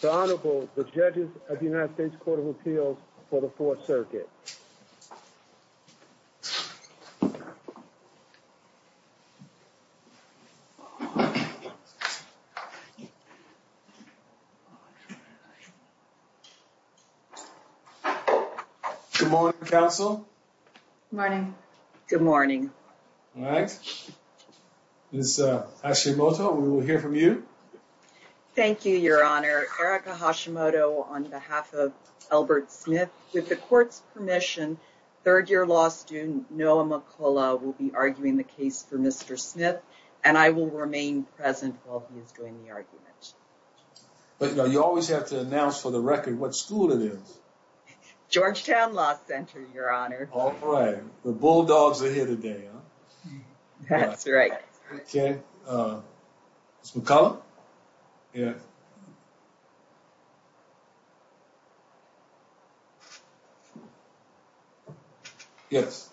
The Honorable, the Judges of the United States Court of Appeals for the Fourth Circuit. Good morning, Counsel. Good morning. Good morning. All right. Ms. Hashimoto, we will hear from you. Thank you, Your Honor. Erica Hashimoto on behalf of Elbert Smith. With the Court's permission, third-year law student Noah McCullough will be arguing the case for Mr. Smith, and I will remain present while he is doing the argument. But you always have to announce for the record what school it is. Georgetown Law Center, Your Honor. All right. The Bulldogs are here today, huh? That's right. Okay. Ms. McCullough? Yes.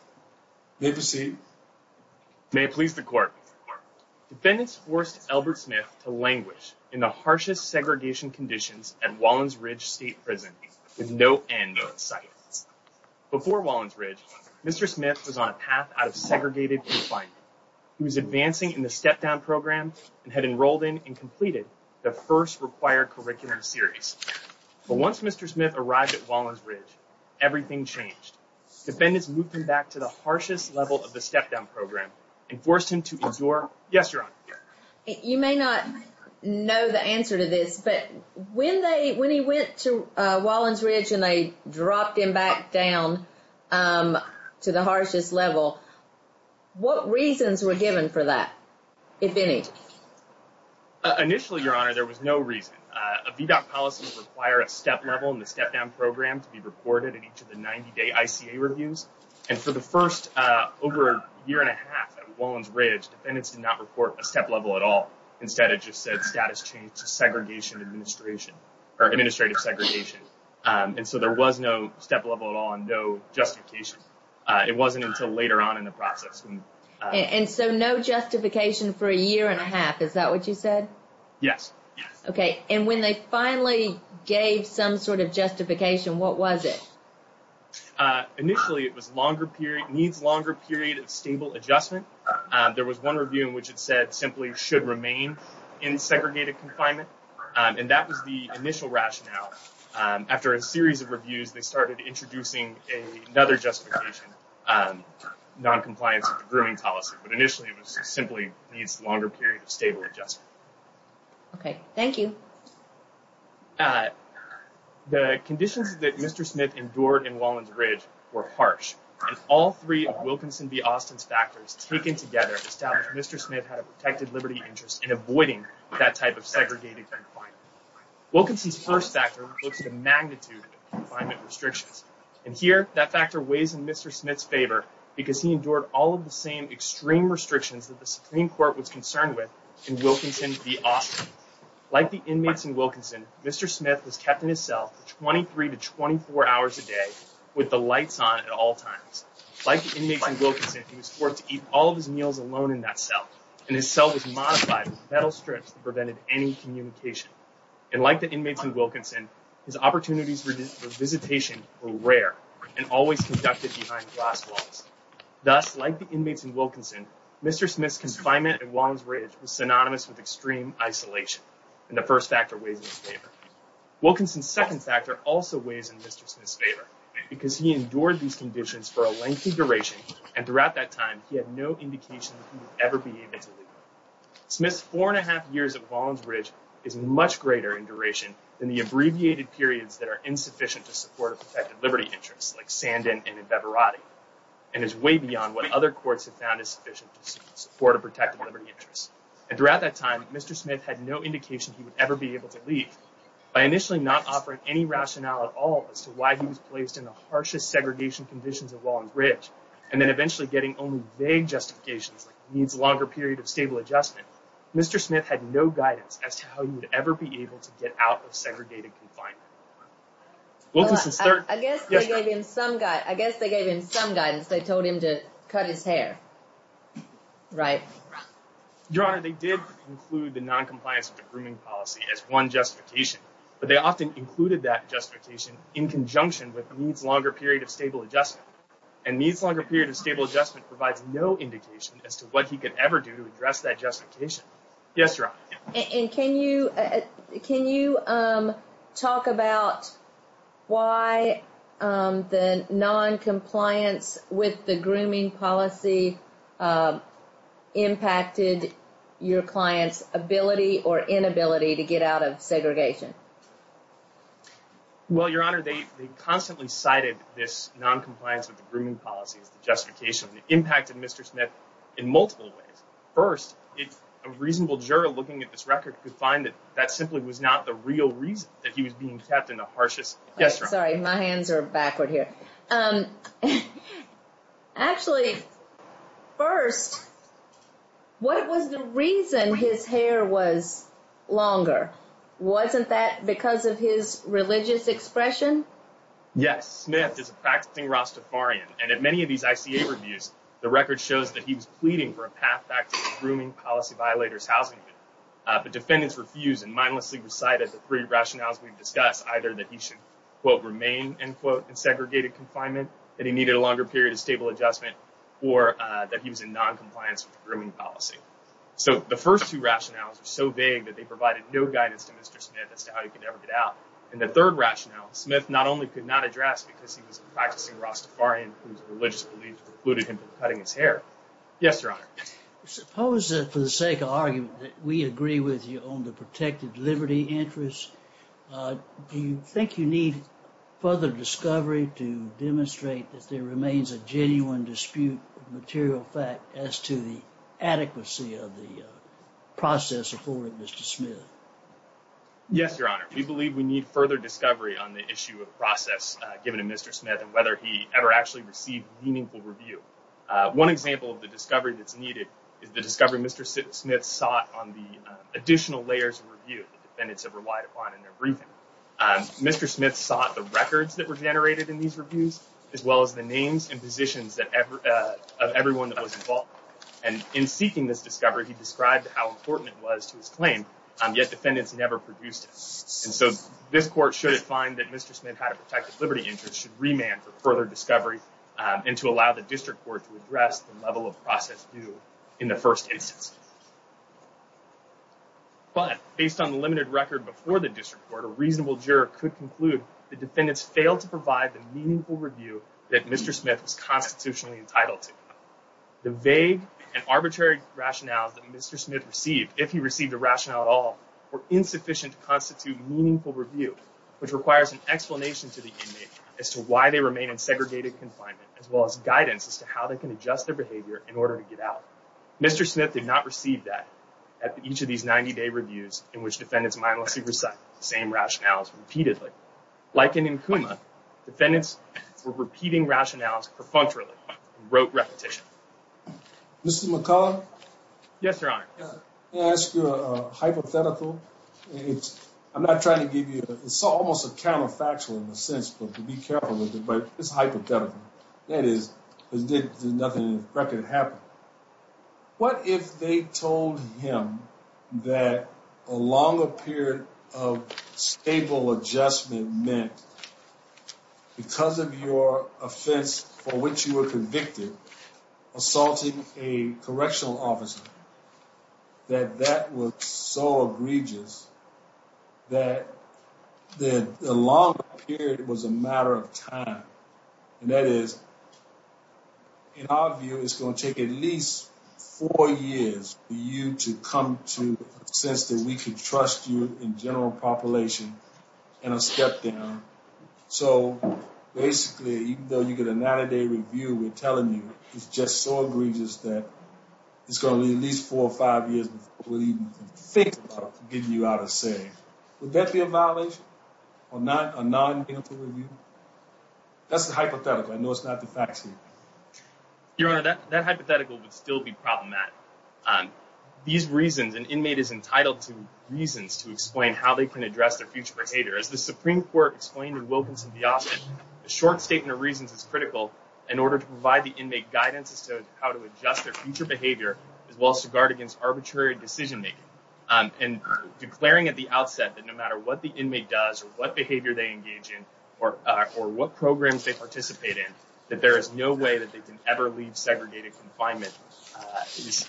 May proceed. May it please the Court. Defendants forced Elbert Smith to languish in the harshest segregation conditions at Wallens Ridge State Prison with no end in sight. Before Wallens Ridge, Mr. Smith was on a path out of segregated confinement. He was advancing in the step-down program and had enrolled in and completed the first required curricular series. But once Mr. Smith arrived at Wallens Ridge, everything changed. Defendants moved him back to the harshest level of the step-down program and forced him to endure— Yes, Your Honor. You may not know the answer to this, but when he went to Wallens Ridge and they dropped him back down to the harshest level, what reasons were given for that, if any? Initially, Your Honor, there was no reason. A VDOT policy would require a step level in the step-down program to be recorded in each of the 90-day ICA reviews. And for the first over a year and a half at Wallens Ridge, defendants did not report a step level at all. Instead, it just said status change to segregation administration or administrative segregation. And so there was no step level at all and no justification. It wasn't until later on in the process. And so no justification for a year and a half. Is that what you said? Yes. Okay. And when they finally gave some sort of justification, what was it? Initially, it was longer period—needs longer period of stable adjustment. There was one review in which it said simply should remain in segregated confinement. And that was the initial rationale. After a series of reviews, they started introducing another justification, noncompliance with the grooming policy. But initially, it was simply needs longer period of stable adjustment. Okay. Thank you. The conditions that Mr. Smith endured in Wallens Ridge were harsh. And all three of Wilkinson v. Austin's factors taken together established Mr. Smith had a protected liberty interest in avoiding that type of segregated confinement. Wilkinson's first factor looks at the magnitude of confinement restrictions. And here, that factor weighs in Mr. Smith's favor because he endured all of the same extreme restrictions that the Supreme Court was concerned with in Wilkinson v. Austin. Like the inmates in Wilkinson, Mr. Smith was kept in his cell for 23 to 24 hours a day with the lights on at all times. Like the inmates in Wilkinson, he was forced to eat all of his meals alone in that cell. And his cell was modified with metal strips that prevented any communication. And like the inmates in Wilkinson, his opportunities for visitation were rare and always conducted behind glass walls. Thus, like the inmates in Wilkinson, Mr. Smith's confinement at Wallens Ridge was synonymous with extreme isolation. And the first factor weighs in his favor. Wilkinson's second factor also weighs in Mr. Smith's favor because he endured these conditions for a lengthy duration. And throughout that time, he had no indication that he would ever be able to leave. Smith's four and a half years at Wallens Ridge is much greater in duration than the abbreviated periods that are insufficient to support a protected liberty interest like Sandin and Bevarati. And is way beyond what other courts have found is sufficient to support a protected liberty interest. And throughout that time, Mr. Smith had no indication he would ever be able to leave. By initially not offering any rationale at all as to why he was placed in the harshest segregation conditions at Wallens Ridge, and then eventually getting only vague justifications like he needs a longer period of stable adjustment, Mr. Smith had no guidance as to how he would ever be able to get out of segregated confinement. Wilkinson's third... I guess they gave him some guidance. They told him to cut his hair, right? Your Honor, they did include the noncompliance of the grooming policy as one justification. But they often included that justification in conjunction with needs longer period of stable adjustment. And needs longer period of stable adjustment provides no indication as to what he could ever do to address that justification. Yes, Your Honor. And can you talk about why the noncompliance with the grooming policy impacted your client's ability or inability to get out of segregation? Well, Your Honor, they constantly cited this noncompliance of the grooming policy as the justification. It impacted Mr. Smith in multiple ways. First, a reasonable juror looking at this record could find that that simply was not the real reason that he was being kept in the harshest... Yes, Your Honor. Sorry, my hands are backward here. Actually, first, what was the reason his hair was longer? Wasn't that because of his religious expression? Yes. Smith is a practicing Rastafarian. And in many of these ICA reviews, the record shows that he was pleading for a path back to the grooming policy violators' housing unit. But defendants refused and mindlessly recited the three rationales we've discussed, either that he should, quote, remain, end quote, in segregated confinement, that he needed a longer period of stable adjustment, or that he was in noncompliance with the grooming policy. So the first two rationales are so vague that they provided no guidance to Mr. Smith as to how he could ever get out. And the third rationale Smith not only could not address because he was a practicing Rastafarian whose religious beliefs precluded him from cutting his hair. Yes, Your Honor. Suppose that for the sake of argument that we agree with you on the protected liberty interest. Do you think you need further discovery to demonstrate that there remains a genuine dispute of material fact as to the adequacy of the process afforded Mr. Smith? Yes, Your Honor. We believe we need further discovery on the issue of process given to Mr. Smith and whether he ever actually received meaningful review. One example of the discovery that's needed is the discovery Mr. Smith sought on the additional layers of review that defendants have relied upon in their briefing. Mr. Smith sought the records that were generated in these reviews, as well as the names and positions of everyone that was involved. And in seeking this discovery, he described how important it was to his claim, yet defendants never produced it. And so this court should find that Mr. Smith had a protected liberty interest should remand for further discovery and to allow the district court to address the level of process due in the first instance. But based on the limited record before the district court, a reasonable juror could conclude the defendants failed to provide the meaningful review that Mr. Smith was constitutionally entitled to. The vague and arbitrary rationales that Mr. Smith received, if he received a rationale at all, were insufficient to constitute meaningful review, which requires an explanation to the inmate as to why they remain in segregated confinement, as well as guidance as to how they can adjust their behavior in order to get out. Mr. Smith did not receive that at each of these 90-day reviews in which defendants mindlessly recite the same rationales repeatedly. Like in Nkuma, defendants were repeating rationales perfunctorily and wrote repetition. Mr. McCullough? Yes, Your Honor. May I ask you a hypothetical? I'm not trying to give you – it's almost a counterfactual in a sense, but be careful with it, but it's hypothetical. What if they told him that a longer period of stable adjustment meant, because of your offense for which you were convicted, assaulting a correctional officer, that that was so egregious that the longer period was a matter of time? And that is, in our view, it's going to take at least four years for you to come to a sense that we can trust you in general population and a step down. So, basically, even though you get a 90-day review, we're telling you it's just so egregious that it's going to be at least four or five years before we even think about getting you out of the city. Would that be a violation? A non-meaningful review? That's the hypothetical. I know it's not the facts here. Your Honor, that hypothetical would still be problematic. These reasons – an inmate is entitled to reasons to explain how they can address their future behavior. As the Supreme Court explained in Wilkinson v. Austin, a short statement of reasons is critical in order to provide the inmate guidance as to how to adjust their future behavior as well as to guard against arbitrary decision-making. And declaring at the outset that no matter what the inmate does or what behavior they engage in or what programs they participate in, that there is no way that they can ever leave segregated confinement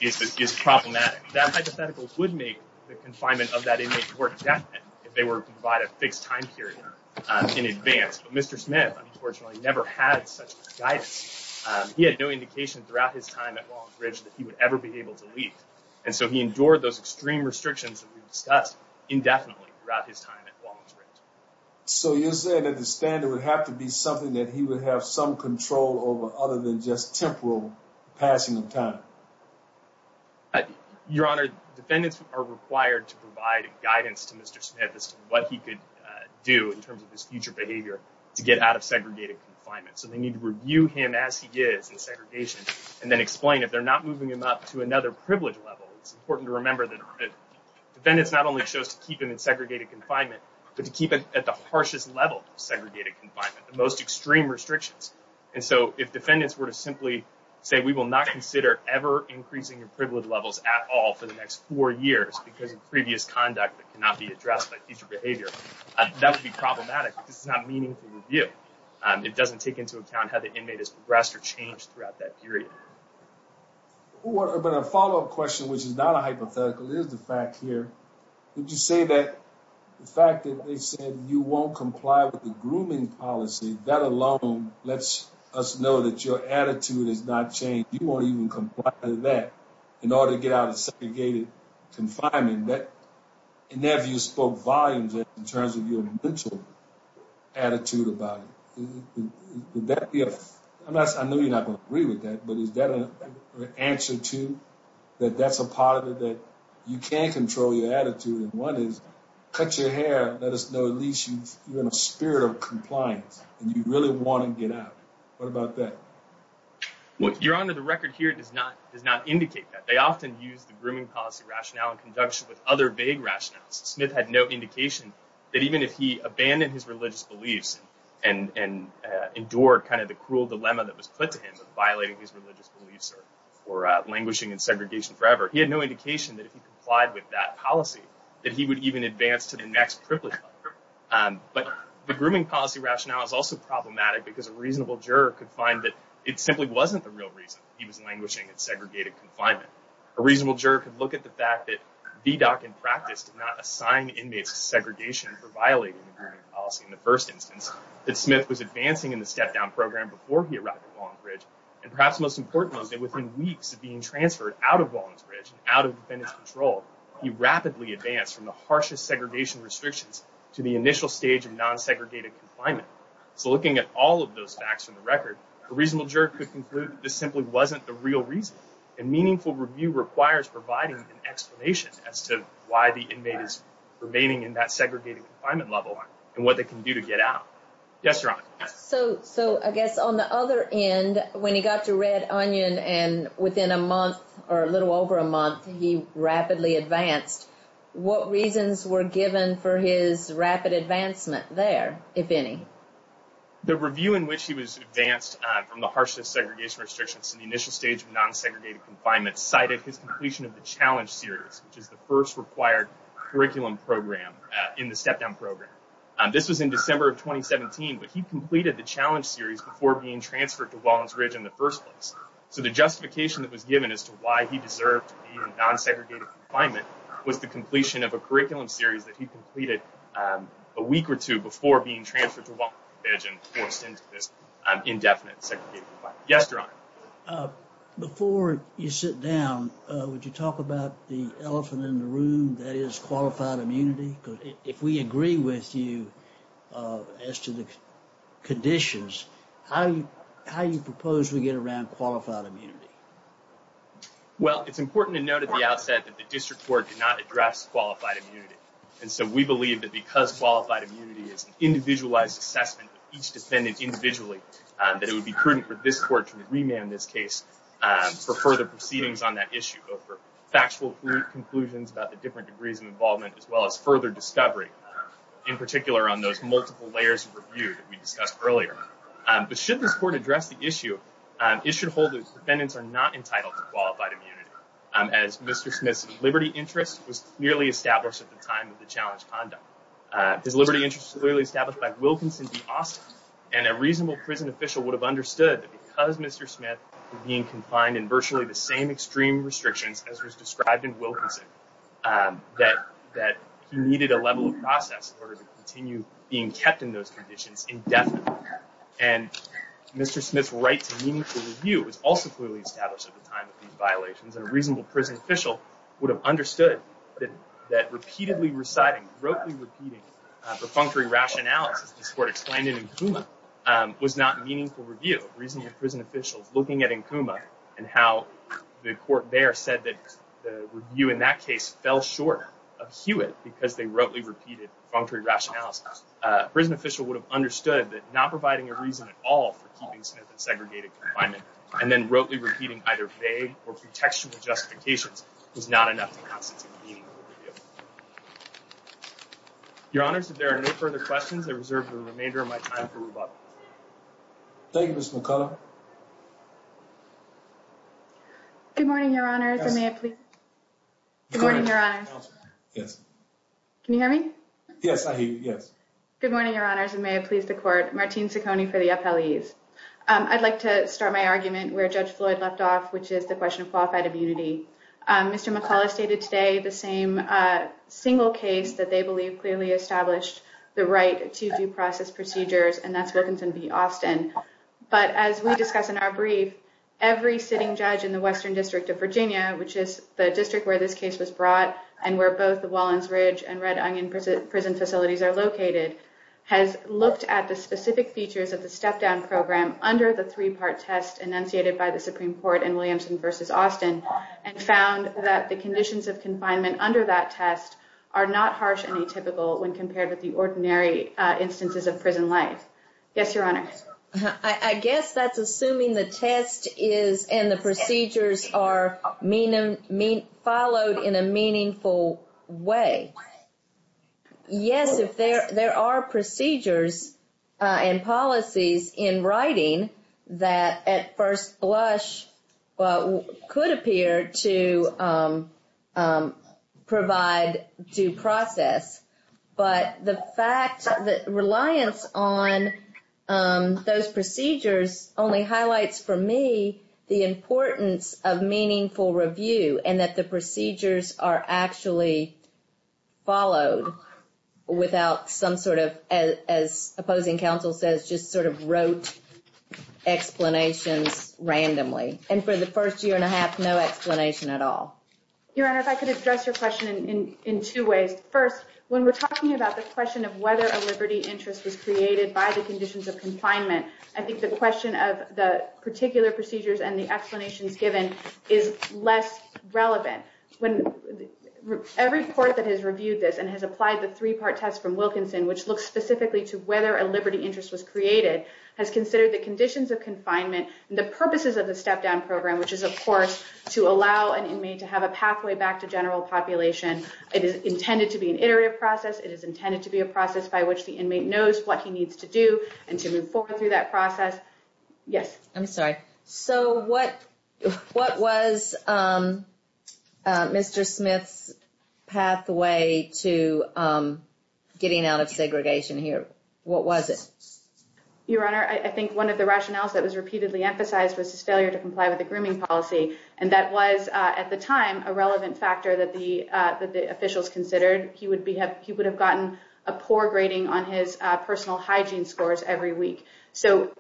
is problematic. That hypothetical would make the confinement of that inmate more definite if they were to provide a fixed time period in advance. But Mr. Smith, unfortunately, never had such guidance. He had no indication throughout his time at Walton's Ridge that he would ever be able to leave. And so he endured those extreme restrictions that we've discussed indefinitely throughout his time at Walton's Ridge. So you're saying that the standard would have to be something that he would have some control over other than just temporal passing of time? Your Honor, defendants are required to provide guidance to Mr. Smith as to what he could do in terms of his future behavior to get out of segregated confinement. So they need to review him as he is in segregation and then explain if they're not moving him up to another privilege level. It's important to remember that defendants not only chose to keep him in segregated confinement, but to keep him at the harshest level of segregated confinement, the most extreme restrictions. And so if defendants were to simply say we will not consider ever increasing your privilege levels at all for the next four years because of previous conduct that cannot be addressed by future behavior, that would be problematic. This is not meaningful review. It doesn't take into account how the inmate has progressed or changed throughout that period. But a follow up question, which is not a hypothetical, is the fact here. Would you say that the fact that they said you won't comply with the grooming policy, that alone lets us know that your attitude has not changed? You won't even comply with that in order to get out of segregated confinement. In their view, spoke volumes in terms of your mental attitude about it. I know you're not going to agree with that, but is that an answer to that? That's a part of it that you can't control your attitude. And one is cut your hair. Let us know. At least you're in a spirit of compliance and you really want to get out. What about that? Well, Your Honor, the record here does not does not indicate that they often use the grooming policy rationale in conjunction with other vague rationales. Smith had no indication that even if he abandoned his religious beliefs and endured kind of the cruel dilemma that was put to him, violating his religious beliefs or languishing in segregation forever, he had no indication that if he complied with that policy that he would even advance to the next privilege. But the grooming policy rationale is also problematic because a reasonable juror could find that it simply wasn't the real reason he was languishing in segregated confinement. A reasonable juror could look at the fact that VDOC in practice did not assign inmates to segregation for violating the grooming policy. In the first instance, that Smith was advancing in the step down program before he arrived at Wallingsbridge. And perhaps most importantly, that within weeks of being transferred out of Wallingsbridge, out of defendant's control, he rapidly advanced from the harshest segregation restrictions to the initial stage of non-segregated confinement. So looking at all of those facts from the record, a reasonable juror could conclude this simply wasn't the real reason. And meaningful review requires providing an explanation as to why the inmate is remaining in that segregated confinement level and what they can do to get out. Yes, Your Honor. So I guess on the other end, when he got to Red Onion and within a month or a little over a month, he rapidly advanced. What reasons were given for his rapid advancement there, if any? The review in which he was advanced from the harshest segregation restrictions to the initial stage of non-segregated confinement cited his completion of the challenge series, which is the first required curriculum program in the step down program. This was in December of 2017, but he completed the challenge series before being transferred to Wallingsbridge in the first place. So the justification that was given as to why he deserved non-segregated confinement was the completion of a curriculum series that he completed a week or two before being transferred to Wallingsbridge and forced into this indefinite segregated confinement. Yes, Your Honor. Before you sit down, would you talk about the elephant in the room that is qualified immunity? If we agree with you as to the conditions, how do you propose we get around qualified immunity? Well, it's important to note at the outset that the district court did not address qualified immunity. And so we believe that because qualified immunity is an individualized assessment of each defendant individually, that it would be prudent for this court to remand this case for further proceedings on that issue, for factual conclusions about the different degrees of involvement, as well as further discovery, in particular on those multiple layers of review that we discussed earlier. But should this court address the issue, it should hold that defendants are not entitled to qualified immunity. As Mr. Smith's liberty interest was clearly established at the time of the challenge conduct. His liberty interest was clearly established by Wilkinson v. Austin, and a reasonable prison official would have understood that because Mr. Smith was being confined in virtually the same extreme restrictions as was described in Wilkinson, that he needed a level of process in order to continue being kept in those conditions indefinitely. And Mr. Smith's right to meaningful review was also clearly established at the time of these violations, and a reasonable prison official would have understood that repeatedly reciting, rotely repeating perfunctory rationales, as this court explained in Nkuma, was not meaningful review. A reasonable prison official looking at Nkuma and how the court there said that the review in that case fell short of Hewitt because they rotely repeated perfunctory rationales. A prison official would have understood that not providing a reason at all for keeping Smith in segregated confinement and then rotely repeating either vague or pretextual justifications was not enough to constitute meaningful review. Your Honors, if there are no further questions, I reserve the remainder of my time for rebuttal. Thank you, Mr. McCullough. Good morning, Your Honors, and may I please? Good morning, Your Honors. Yes. Can you hear me? Yes, I hear you, yes. Good morning, Your Honors, and may I please the court? Martine Ciccone for the appellees. I'd like to start my argument where Judge Floyd left off, which is the question of qualified immunity. Mr. McCullough stated today the same single case that they believe clearly established the right to due process procedures, and that's Wilkinson v. Austin. But as we discuss in our brief, every sitting judge in the Western District of Virginia, which is the district where this case was brought and where both the Wallens Ridge and Red Onion prison facilities are located, has looked at the specific features of the step-down program under the three-part test enunciated by the Supreme Court in Williamson v. Austin and found that the conditions of confinement under that test are not harsh and atypical when compared with the ordinary instances of prison life. Yes, Your Honor. I guess that's assuming the test is and the procedures are followed in a meaningful way. Yes, there are procedures and policies in writing that at first blush could appear to provide due process, but the fact that reliance on those procedures only highlights for me the importance of meaningful review and that the procedures are actually followed without some sort of, as opposing counsel says, just sort of rote explanations randomly. And for the first year and a half, no explanation at all. Your Honor, if I could address your question in two ways. First, when we're talking about the question of whether a liberty interest was created by the conditions of confinement, I think the question of the particular procedures and the explanations given is less relevant. Every court that has reviewed this and has applied the three-part test from Wilkinson, which looks specifically to whether a liberty interest was created, has considered the conditions of confinement and the purposes of the step-down program, which is, of course, to allow an inmate to have a pathway back to general population. It is intended to be an iterative process. It is intended to be a process by which the inmate knows what he needs to do and to move forward through that process. Yes. I'm sorry. So what was Mr. Smith's pathway to getting out of segregation here? What was it? Your Honor, I think one of the rationales that was repeatedly emphasized was his failure to comply with the grooming policy, and that was, at the time, a relevant factor that the officials considered. He would have gotten a poor grading on his personal hygiene scores every week. So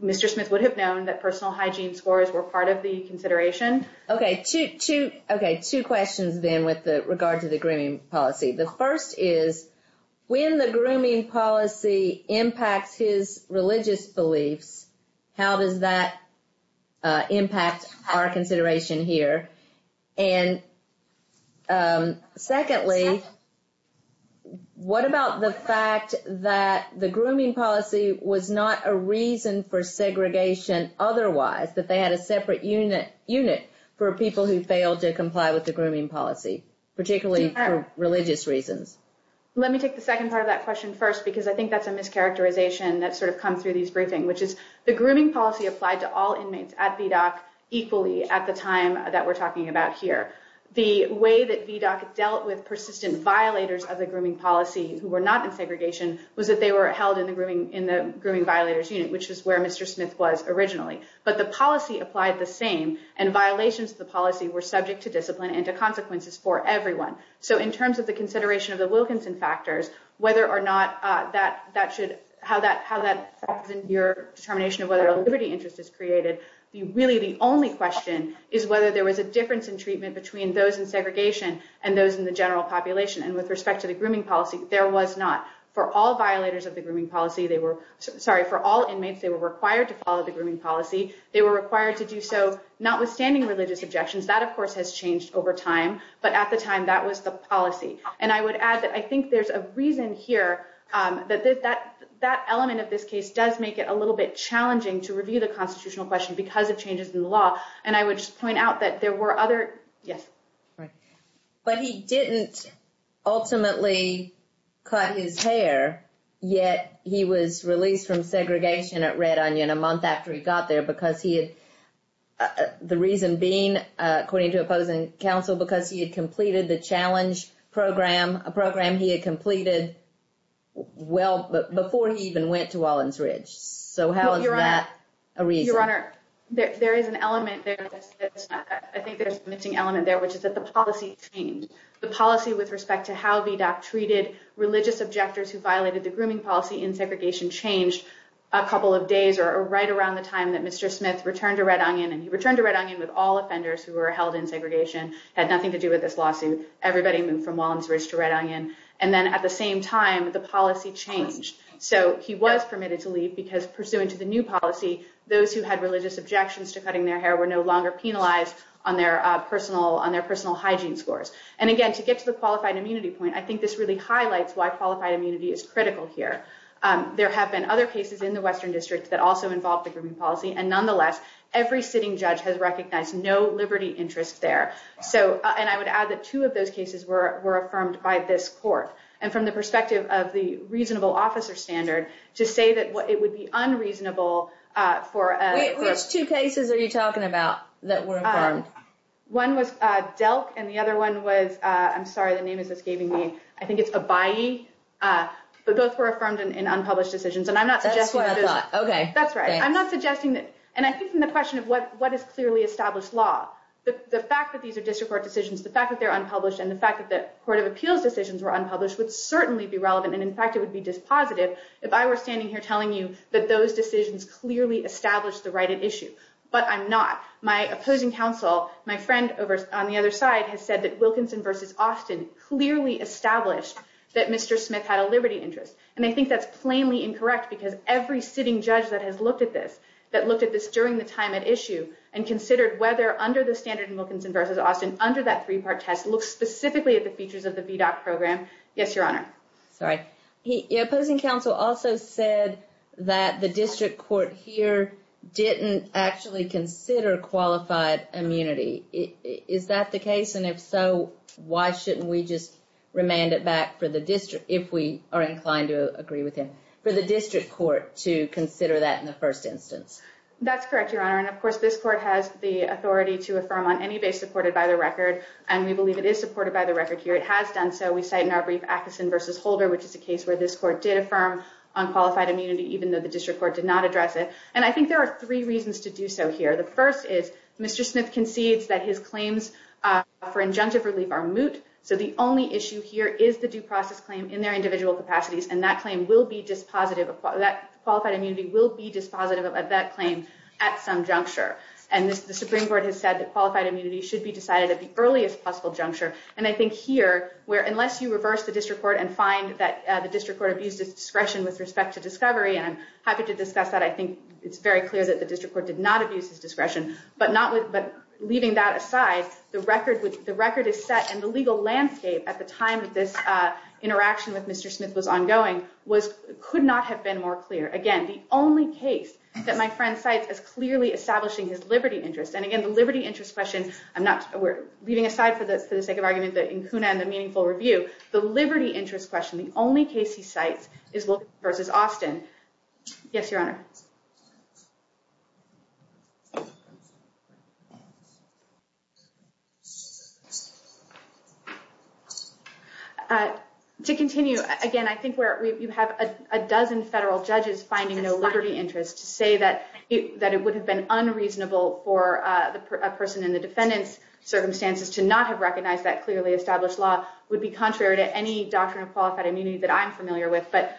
Mr. Smith would have known that personal hygiene scores were part of the consideration. Okay. Two questions, then, with regard to the grooming policy. The first is, when the grooming policy impacts his religious beliefs, how does that impact our consideration here? And secondly, what about the fact that the grooming policy was not a reason for segregation otherwise, that they had a separate unit for people who failed to comply with the grooming policy, particularly for religious reasons? Let me take the second part of that question first, because I think that's a mischaracterization that sort of comes through these briefings, which is the grooming policy applied to all inmates at VDOC equally at the time that we're talking about here. The way that VDOC dealt with persistent violators of the grooming policy who were not in segregation was that they were held in the grooming violators' unit, which is where Mr. Smith was originally. But the policy applied the same, and violations of the policy were subject to discipline and to consequences for everyone. So in terms of the consideration of the Wilkinson factors, whether or not that should – how that – how that affects your determination of whether a liberty interest is created, really the only question is whether there was a difference in treatment between those in segregation and those in the general population. And with respect to the grooming policy, there was not. For all violators of the grooming policy, they were – sorry, for all inmates, they were required to follow the grooming policy. They were required to do so notwithstanding religious objections. That, of course, has changed over time. But at the time, that was the policy. And I would add that I think there's a reason here that that element of this case does make it a little bit challenging to review the constitutional question because of changes in the law. And I would just point out that there were other – yes. But he didn't ultimately cut his hair, yet he was released from segregation at Red Onion a month after he got there because he had – the reason being, according to opposing counsel, because he had completed the challenge program, a program he had completed well before he even went to Wallins Ridge. So how is that a reason? Your Honor, there is an element there that's – I think there's a missing element there, which is that the policy changed. The policy with respect to how VDOC treated religious objectors who violated the grooming policy in segregation changed a couple of days or right around the time that Mr. Smith returned to Red Onion. And he returned to Red Onion with all offenders who were held in segregation, had nothing to do with this lawsuit. Everybody moved from Wallins Ridge to Red Onion. And then at the same time, the policy changed. So he was permitted to leave because, pursuant to the new policy, those who had religious objections to cutting their hair were no longer penalized on their personal hygiene scores. And again, to get to the qualified immunity point, I think this really highlights why qualified immunity is critical here. There have been other cases in the Western District that also involved the grooming policy, and nonetheless, every sitting judge has recognized no liberty interest there. So – and I would add that two of those cases were affirmed by this court. And from the perspective of the reasonable officer standard, to say that it would be unreasonable for – Which two cases are you talking about that were affirmed? One was DELC, and the other one was – I'm sorry, the name is escaping me. I think it's ABYEI. But both were affirmed in unpublished decisions. And I'm not suggesting – That's what I thought. Okay. That's right. I'm not suggesting that – and I think from the question of what is clearly established law, the fact that these are district court decisions, the fact that they're unpublished, and the fact that the court of appeals decisions were unpublished would certainly be relevant, and in fact, it would be dispositive if I were standing here telling you that those decisions clearly established the right at issue. But I'm not. My opposing counsel, my friend on the other side, has said that Wilkinson v. Austin clearly established that Mr. Smith had a liberty interest. And I think that's plainly incorrect, because every sitting judge that has looked at this, that looked at this during the time at issue, and considered whether under the standard in Wilkinson v. Austin, under that three-part test, looked specifically at the features of the VDOT program. Yes, Your Honor. Sorry. Your opposing counsel also said that the district court here didn't actually consider qualified immunity. Is that the case? And if so, why shouldn't we just remand it back for the district, if we are inclined to agree with him, for the district court to consider that in the first instance? That's correct, Your Honor. And, of course, this court has the authority to affirm on any base supported by the record, and we believe it is supported by the record here. It has done so. We cite in our brief Atkinson v. Holder, which is a case where this court did affirm on qualified immunity, even though the district court did not address it. And I think there are three reasons to do so here. The first is Mr. Smith concedes that his claims for injunctive relief are moot, so the only issue here is the due process claim in their individual capacities, and that claim will be dispositive of that claim at some juncture. And the Supreme Court has said that qualified immunity should be decided at the earliest possible juncture. And I think here, unless you reverse the district court and find that the district court abused its discretion with respect to discovery, and I'm happy to discuss that. I think it's very clear that the district court did not abuse its discretion. But leaving that aside, the record is set, and the legal landscape at the time that this interaction with Mr. Smith was ongoing could not have been more clear. Again, the only case that my friend cites is clearly establishing his liberty interest. And again, the liberty interest question, we're leaving aside for the sake of argument in CUNA and the meaningful review, the liberty interest question, the only case he cites is Wilkins v. Austin. Yes, Your Honor. To continue, again, I think you have a dozen federal judges finding no liberty interest. To say that it would have been unreasonable for a person in the defendant's circumstances to not have recognized that clearly established law would be contrary to any doctrine of qualified immunity that I'm familiar with. But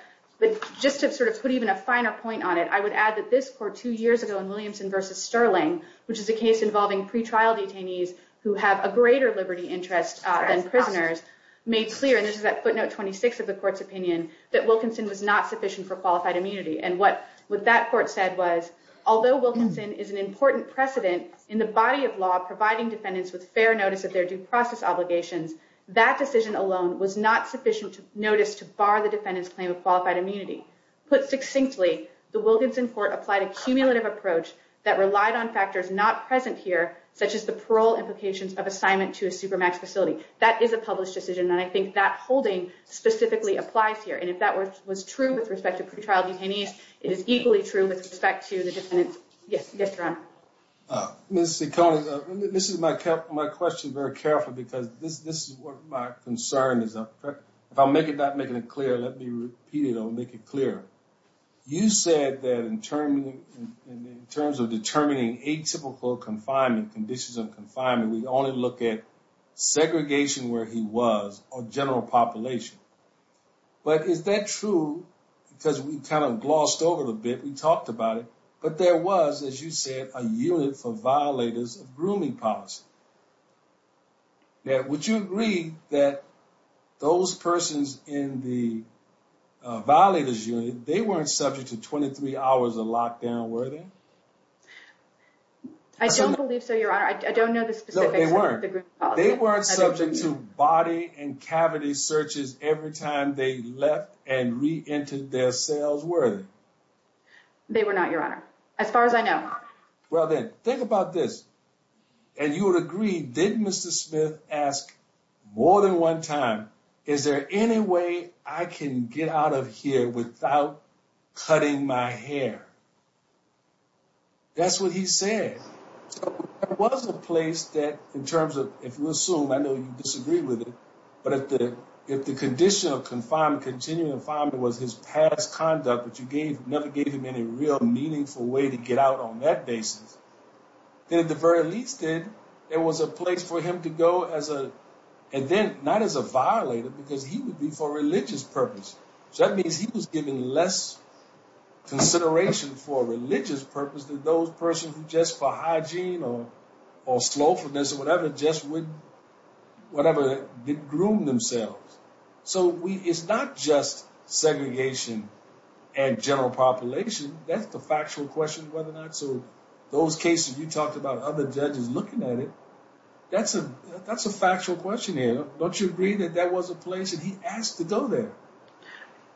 just to sort of put even a finer point on it, I would add that this court two years ago in Williamson v. Sterling, which is a case involving pretrial detainees who have a greater liberty interest than prisoners, made clear, and this is at footnote 26 of the court's opinion, that Wilkinson was not sufficient for qualified immunity. And what that court said was, although Wilkinson is an important precedent in the body of law providing defendants with fair notice of their due process obligations, that decision alone was not sufficient notice to bar the defendant's claim of qualified immunity. Put succinctly, the Wilkinson court applied a cumulative approach that relied on factors not present here, such as the parole implications of assignment to a supermax facility. That is a published decision, and I think that holding specifically applies here. And if that was true with respect to pretrial detainees, it is equally true with respect to the defendants. Yes, Ron. Ms. Sicconi, this is my question very carefully, because this is what my concern is. If I'm not making it clear, let me repeat it and I'll make it clearer. You said that in terms of determining atypical confinement, conditions of confinement, we only look at segregation where he was or general population. But is that true? Because we kind of glossed over it a bit, we talked about it, but there was, as you said, a unit for violators of grooming policy. Now, would you agree that those persons in the violators unit, they weren't subject to 23 hours of lockdown, were they? I don't believe so, Your Honor. I don't know the specifics of the grooming policy. They weren't subject to body and cavity searches every time they left and reentered their cells, were they? They were not, Your Honor, as far as I know. Well, then, think about this. And you would agree, did Mr. Smith ask more than one time, is there any way I can get out of here without cutting my hair? That's what he said. There was a place that in terms of, if you assume, I know you disagree with it, but if the condition of confinement, continuing confinement, was his past conduct, but you never gave him any real meaningful way to get out on that basis, then at the very least there was a place for him to go as a, and then not as a violator because he would be for religious purpose. So that means he was given less consideration for religious purpose than those persons who just for hygiene or slothfulness or whatever, just would, whatever, groom themselves. So it's not just segregation and general population. That's the factual question whether or not, so those cases you talked about, other judges looking at it, that's a factual question here. Don't you agree that that was a place and he asked to go there?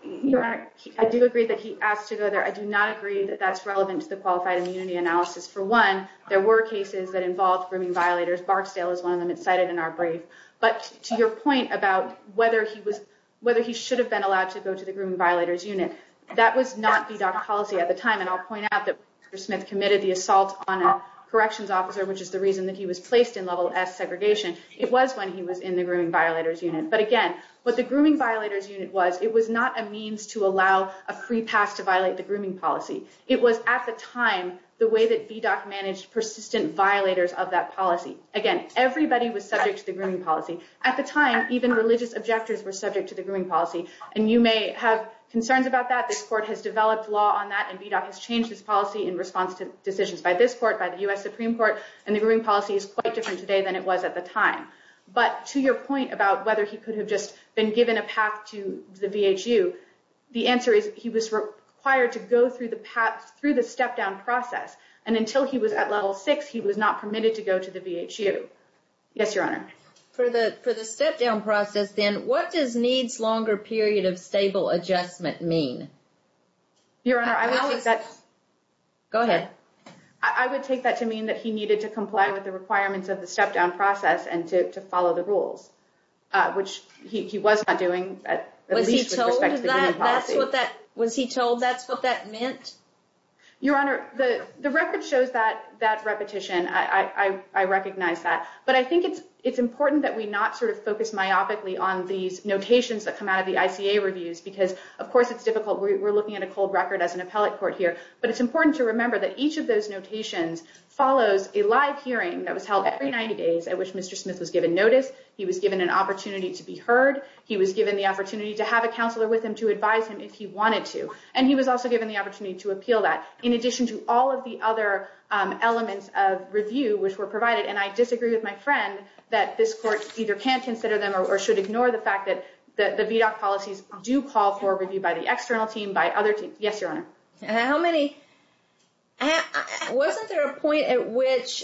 Your Honor, I do agree that he asked to go there. I do not agree that that's relevant to the qualified immunity analysis. For one, there were cases that involved grooming violators. Barksdale is one of them. It's cited in our brief. But to your point about whether he was, whether he should have been allowed to go to the grooming violators unit, that was not VDOC policy at the time. And I'll point out that Mr. Smith committed the assault on a corrections officer, which is the reason that he was placed in level S segregation. It was when he was in the grooming violators unit. But again, what the grooming violators unit was, it was not a means to allow a free pass to violate the grooming policy. It was at the time the way that VDOC managed persistent violators of that policy. Again, everybody was subject to the grooming policy. At the time, even religious objectors were subject to the grooming policy. And you may have concerns about that. This court has developed law on that, and VDOC has changed its policy in response to decisions by this court, by the U.S. Supreme Court. And the grooming policy is quite different today than it was at the time. But to your point about whether he could have just been given a path to the VHU, the answer is he was required to go through the step-down process. And until he was at level six, he was not permitted to go to the VHU. Yes, Your Honor. For the step-down process, then, what does needs longer period of stable adjustment mean? Your Honor, I would take that. Go ahead. I would take that to mean that he needed to comply with the requirements of the step-down process and to follow the rules, which he was not doing at least with respect to the grooming policy. Was he told that's what that meant? Your Honor, the record shows that repetition. I recognize that. But I think it's important that we not sort of focus myopically on these notations that come out of the ICA reviews because, of course, it's difficult. We're looking at a cold record as an appellate court here. But it's important to remember that each of those notations follows a live hearing that was held every 90 days at which Mr. Smith was given notice. He was given an opportunity to be heard. He was given the opportunity to have a counselor with him to advise him if he needed to appeal that, in addition to all of the other elements of review, which were provided. And I disagree with my friend that this court either can't consider them or should ignore the fact that the VDOC policies do call for review by the external team, by other teams. Yes, Your Honor. How many? Wasn't there a point at which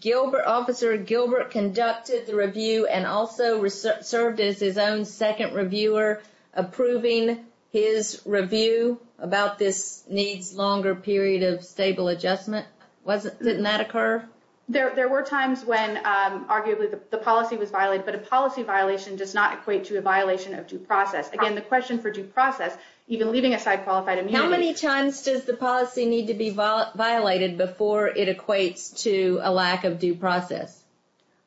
Gilbert, Officer Gilbert conducted the review and also served as his own second reviewer approving his review about this needs longer period of stable adjustment? Didn't that occur? There were times when arguably the policy was violated, but a policy violation does not equate to a violation of due process. Again, the question for due process, even leaving aside qualified immunity. How many times does the policy need to be violated before it equates to a lack of due process?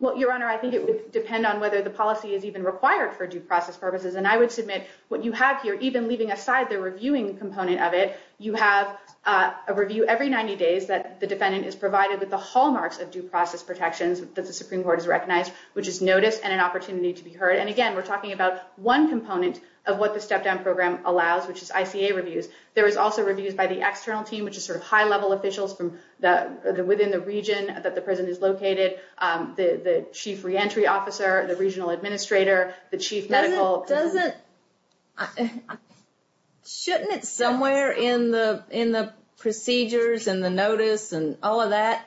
Well, Your Honor, I think it would depend on whether the policy is even required for due process purposes. And I would submit what you have here, even leaving aside the reviewing component of it, you have a review every 90 days that the defendant is provided with the hallmarks of due process protections that the Supreme Court has recognized, which is notice and an opportunity to be heard. And again, we're talking about one component of what the step down program allows, which is ICA reviews. There is also reviews by the external team, which is sort of high level officials from the, within the region that the prison is located. The chief re-entry officer, the regional administrator, the chief medical. Doesn't, shouldn't it somewhere in the procedures and the notice and all of that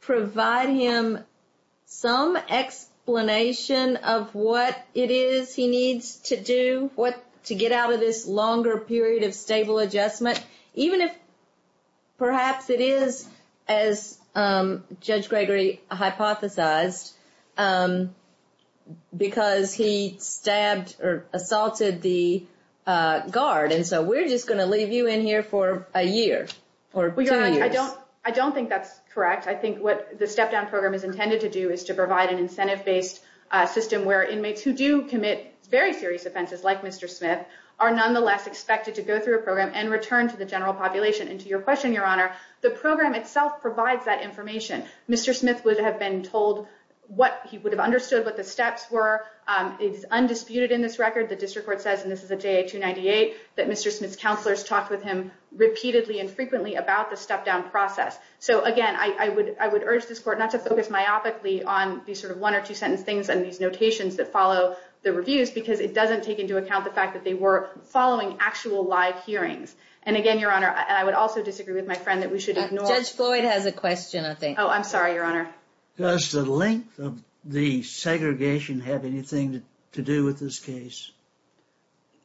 provide him some explanation of what it is he needs to do, what to get out of this longer period of stable adjustment, even if perhaps it is as Judge Gregory hypothesized, because he stabbed or assaulted the guard. And so we're just going to leave you in here for a year or two years. I don't think that's correct. I think what the step down program is intended to do is to provide an incentive based system where inmates who do commit very serious offenses, like Mr. Smith are nonetheless expected to go through a program and return to the general population. And to your question, your honor the program itself provides that information. Mr. Smith would have been told what he would have understood what the steps were. It's undisputed in this record. The district court says, and this is a day to 98 that Mr. Smith's counselors talked with him repeatedly and frequently about the step down process. So again, I would, I would urge this court not to focus myopically on these sort of one or two sentence things. And these notations that follow the reviews, because it doesn't take into account the fact that they were following actual live hearings. And again, your honor, I would also disagree with my friend that we should ignore. Judge Floyd has a question. I think, Oh, I'm sorry, your honor. Does the length of the segregation have anything to do with this case?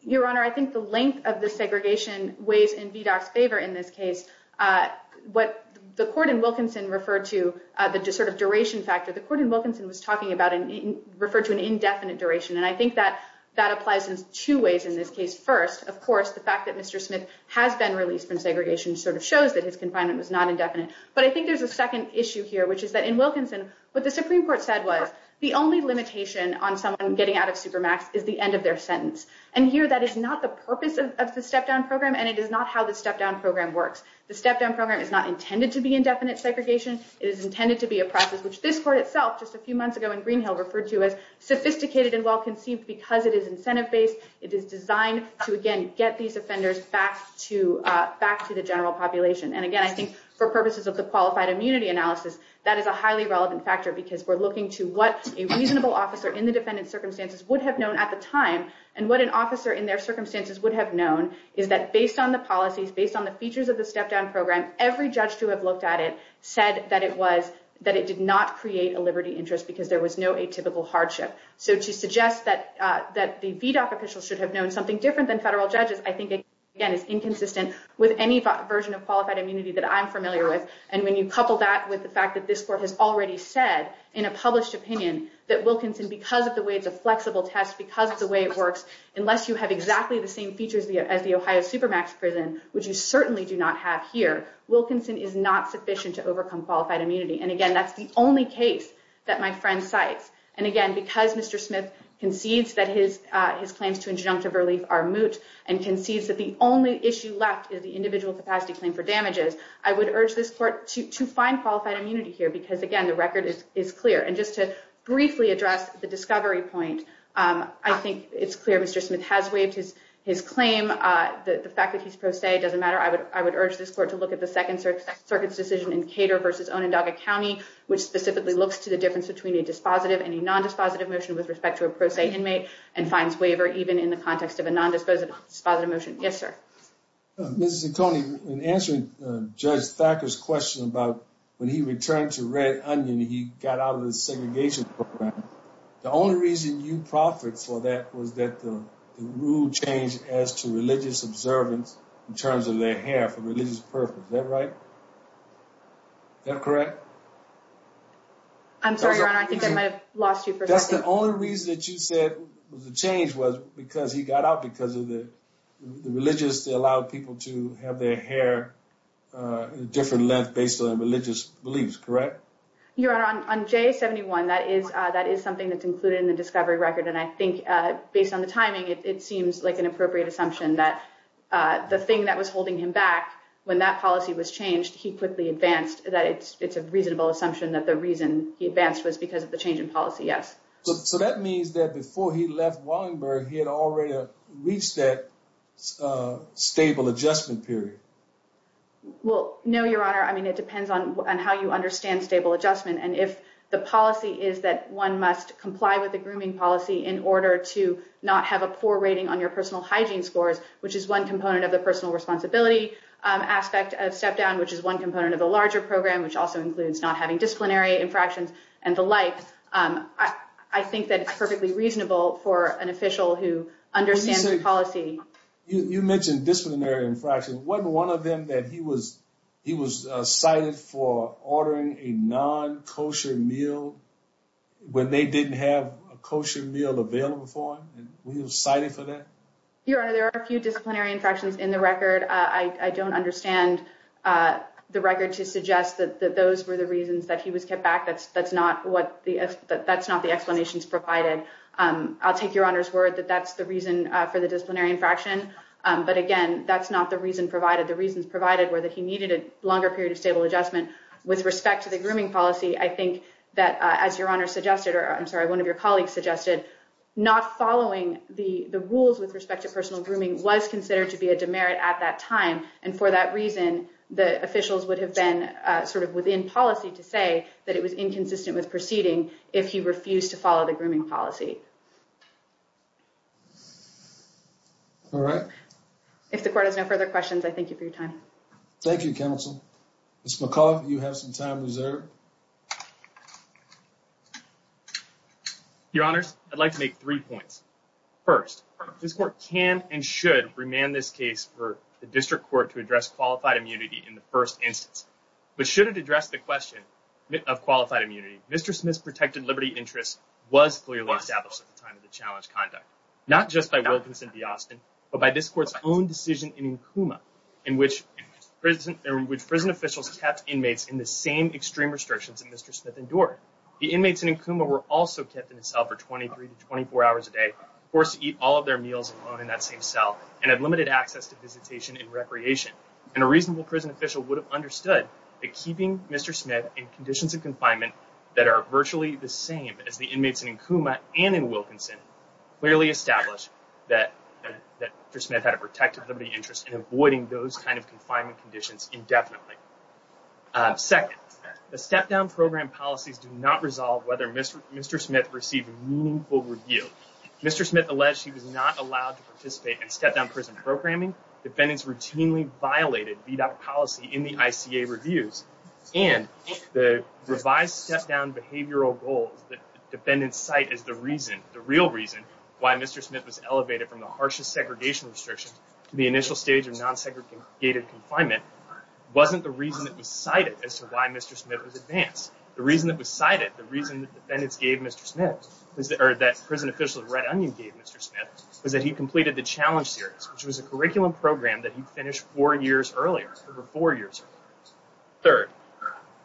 Your honor. I think the length of the segregation weighs in VDOC's favor in this case. Uh, what the court in Wilkinson referred to, uh, the sort of duration factor, the court in Wilkinson was talking about and referred to an indefinite duration. And I think that that applies in two ways in this case. First, of course, the fact that Mr. Smith has been released from segregation sort of shows that his confinement was not indefinite. But I think there's a second issue here, which is that in Wilkinson, but the Supreme court said was the only limitation on someone getting out of supermax is the end of their sentence. And here, that is not the purpose of the step down program. And it is not how the step down program works. The step down program is not intended to be indefinite segregation. It is intended to be a process, which this court itself just a few months ago in Greenhill referred to as sophisticated and well-conceived because it is incentive based. It is designed to, again, get these offenders back to, uh, back to the general population. And again, I think for purposes of the qualified immunity analysis, that is a highly relevant factor because we're looking to what a reasonable officer in the defendant circumstances would have known at the time. And what an officer in their circumstances would have known is that based on the policies, based on the features of the step down program, every judge to have looked at it said that it was, that it did not create a Liberty interest because there was no atypical hardship. So to suggest that, uh, that the VDOC officials should have known something different than federal judges, I think, again, is inconsistent with any version of qualified immunity that I'm familiar with. And when you couple that with the fact that this court has already said in a published opinion that Wilkinson, because of the way it's a flexible test, because of the way it works, unless you have exactly the same features as the Ohio Supermax prison, which you certainly do not have here, Wilkinson is not sufficient to overcome qualified immunity. And again, that's the only case that my friend cites. And again, because Mr. Smith concedes that his, uh, his claims to injunctive relief are moot and concedes that the only issue left is the individual capacity claim for damages. I would urge this court to, to find qualified immunity here, because again, the record is, is clear. And just to briefly address the discovery point. Um, I think it's clear Mr. Smith has waived his, his claim. Uh, the, the fact that he's pro se doesn't matter. I would, I would urge this court to look at the second circuit circuit's decision in Cater versus Onondaga County, which specifically looks to the difference between a dispositive and a nondispositive motion with respect to a pro se inmate and fines waiver, even in the context of a nondisposable dispositive motion. Yes, sir. Mrs. Zucconi in answering judge Thacker's question about when he returned to red onion, he got out of the segregation program. The only reason you profits for that was that the rule changed as to religious observance in terms of their hair for religious purpose. Is that right? Yeah. Correct. I'm sorry, your honor. I think I might've lost you. That's the only reason that you said the change was because he got out because of the religious, they allowed people to have their hair, uh, different left based on religious beliefs. Correct. Your honor on, on J 71, that is, uh, that is something that's included in the discovery record. And I think, uh, based on the timing, it seems like an appropriate assumption that, uh, the thing that was holding him back when that policy was changed, he quickly advanced that it's, it's a reasonable assumption that the reason he advanced was because of the change in policy. Yes. So that means that before he left Wallenberg, he had already reached that, uh, stable adjustment period. Well, no, your honor. I mean, it depends on how you understand stable adjustment. And if the policy is that one must comply with the grooming policy in order to not have a poor rating on your personal hygiene scores, which is one component of the personal responsibility, um, aspect of step down, which is one component of the larger program, which also includes not having disciplinary infractions and the light. Um, I, I think that it's perfectly reasonable for an official who understands the policy. You mentioned disciplinary infraction. One, one of them that he was, he was, uh, cited for ordering a non kosher meal when they didn't have a kosher meal available for him. Was he cited for that? Your honor. There are a few disciplinary infractions in the record. Uh, I don't understand, uh, the record to suggest that those were the reasons that he was kept back. That's, that's not what the F that that's not the explanations provided. Um, I'll take your honor's word that that's the reason for the disciplinary infraction. Um, but again, that's not the reason provided the reasons provided were that he needed a longer period of stable adjustment with respect to the grooming policy. I think that, uh, as your honor suggested, or I'm sorry, one of your colleagues suggested not following the, the rules with respect to personal grooming was considered to be a demerit at that time. And for that reason, the officials would have been, uh, sort of within policy to say that it was inconsistent with proceeding if he refused to follow the grooming policy. All right. If the court has no further questions, I thank you for your time. Thank you. Counsel. It's my call. You have some time reserved. Your honors. I'd like to make three points. First, this court can and should remand this case for the district court to address qualified immunity in the first instance, but should it address the question of qualified immunity? Mr. Smith's protected Liberty interest was clearly established at the time of the challenge conduct, not just by Wilkinson D Austin, but by this court's own decision in Kuma in which prison, which prison officials kept inmates in the same extreme restrictions and Mr. Smith endured. The inmates in Akuma were also kept in a cell for 23 to 24 hours a day, of course, eat all of their meals alone in that same cell and had limited access to visitation and recreation. And a reasonable prison official would have understood that keeping Mr. Smith in conditions of confinement that are virtually the same as the inmates in Akuma and in Wilkinson clearly established that, that for Smith had a protective Liberty interest in avoiding those kinds of confinement conditions indefinitely. Second, the step down program policies do not resolve whether Mr. Mr. Smith received meaningful review. Mr. Smith alleged he was not allowed to participate in step down prison programming. Defendants routinely violated policy in the ICA reviews and the revised step down behavioral goals that defendants site is the reason, the real reason why Mr. Smith was elevated from the harshest segregation restrictions to the initial stage of non-segregated confinement. Wasn't the reason that was cited as to why Mr. Smith was advanced. The reason that was cited, the reason that defendants gave Mr. Smith is that, or that prison official of red onion gave Mr. Smith was that he completed the challenge series, which was a curriculum program that he finished four years earlier, over four years. Third,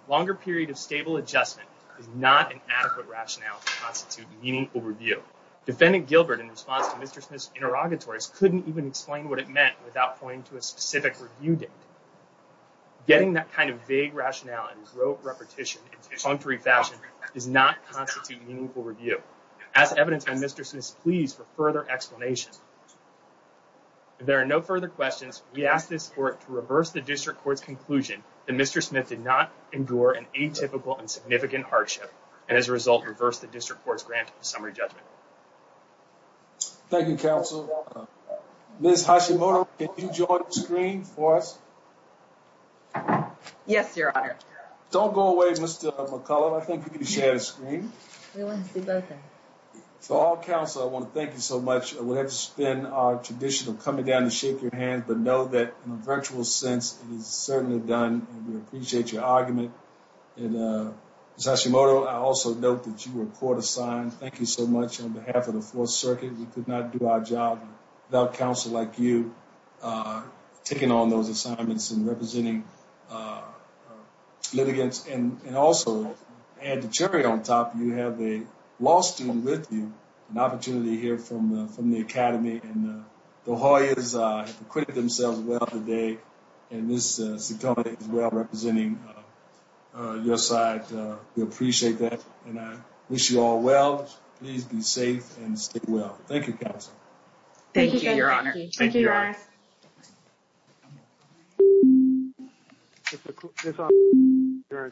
longer period of stable adjustment is not an adequate rationale to constitute meaningful review. Defendant Gilbert in response to Mr. Smith meant without pointing to a specific review date, getting that kind of vague rationality, rote repetition, it's on three fashion does not constitute meaningful review as evidence. And Mr. Smith is pleased for further explanations. There are no further questions. We asked this court to reverse the district court's conclusion that Mr. Smith did not endure an atypical and significant hardship. And as a result, reverse the district court's grant summary judgment. Thank you. Counsel. Ms. Hashimoto, can you join the screen for us? Yes, your honor. Don't go away. Mr. McCullough. I think you can share the screen. So all counsel, I want to thank you so much. We'll have to spend our traditional coming down to shake your hand, but know that in a virtual sense, it is certainly done. And we appreciate your argument. And, uh, Sasha motor. I also note that you were court assigned. Thank you so much. On behalf of the fourth circuit, we could not do our job without counsel like you, uh, taking on those assignments and representing, uh, uh, litigants and, and also add the cherry on top. You have a loss to them with you, an opportunity to hear from, uh, from the academy and, uh, the Hoyas, uh, acquitted themselves well today. And this, uh, is well representing, uh, your side. Uh, we appreciate that. And I wish you all well, please be safe and stay well. Thank you counsel. Thank you. Your Honor. There's something you're trying to do.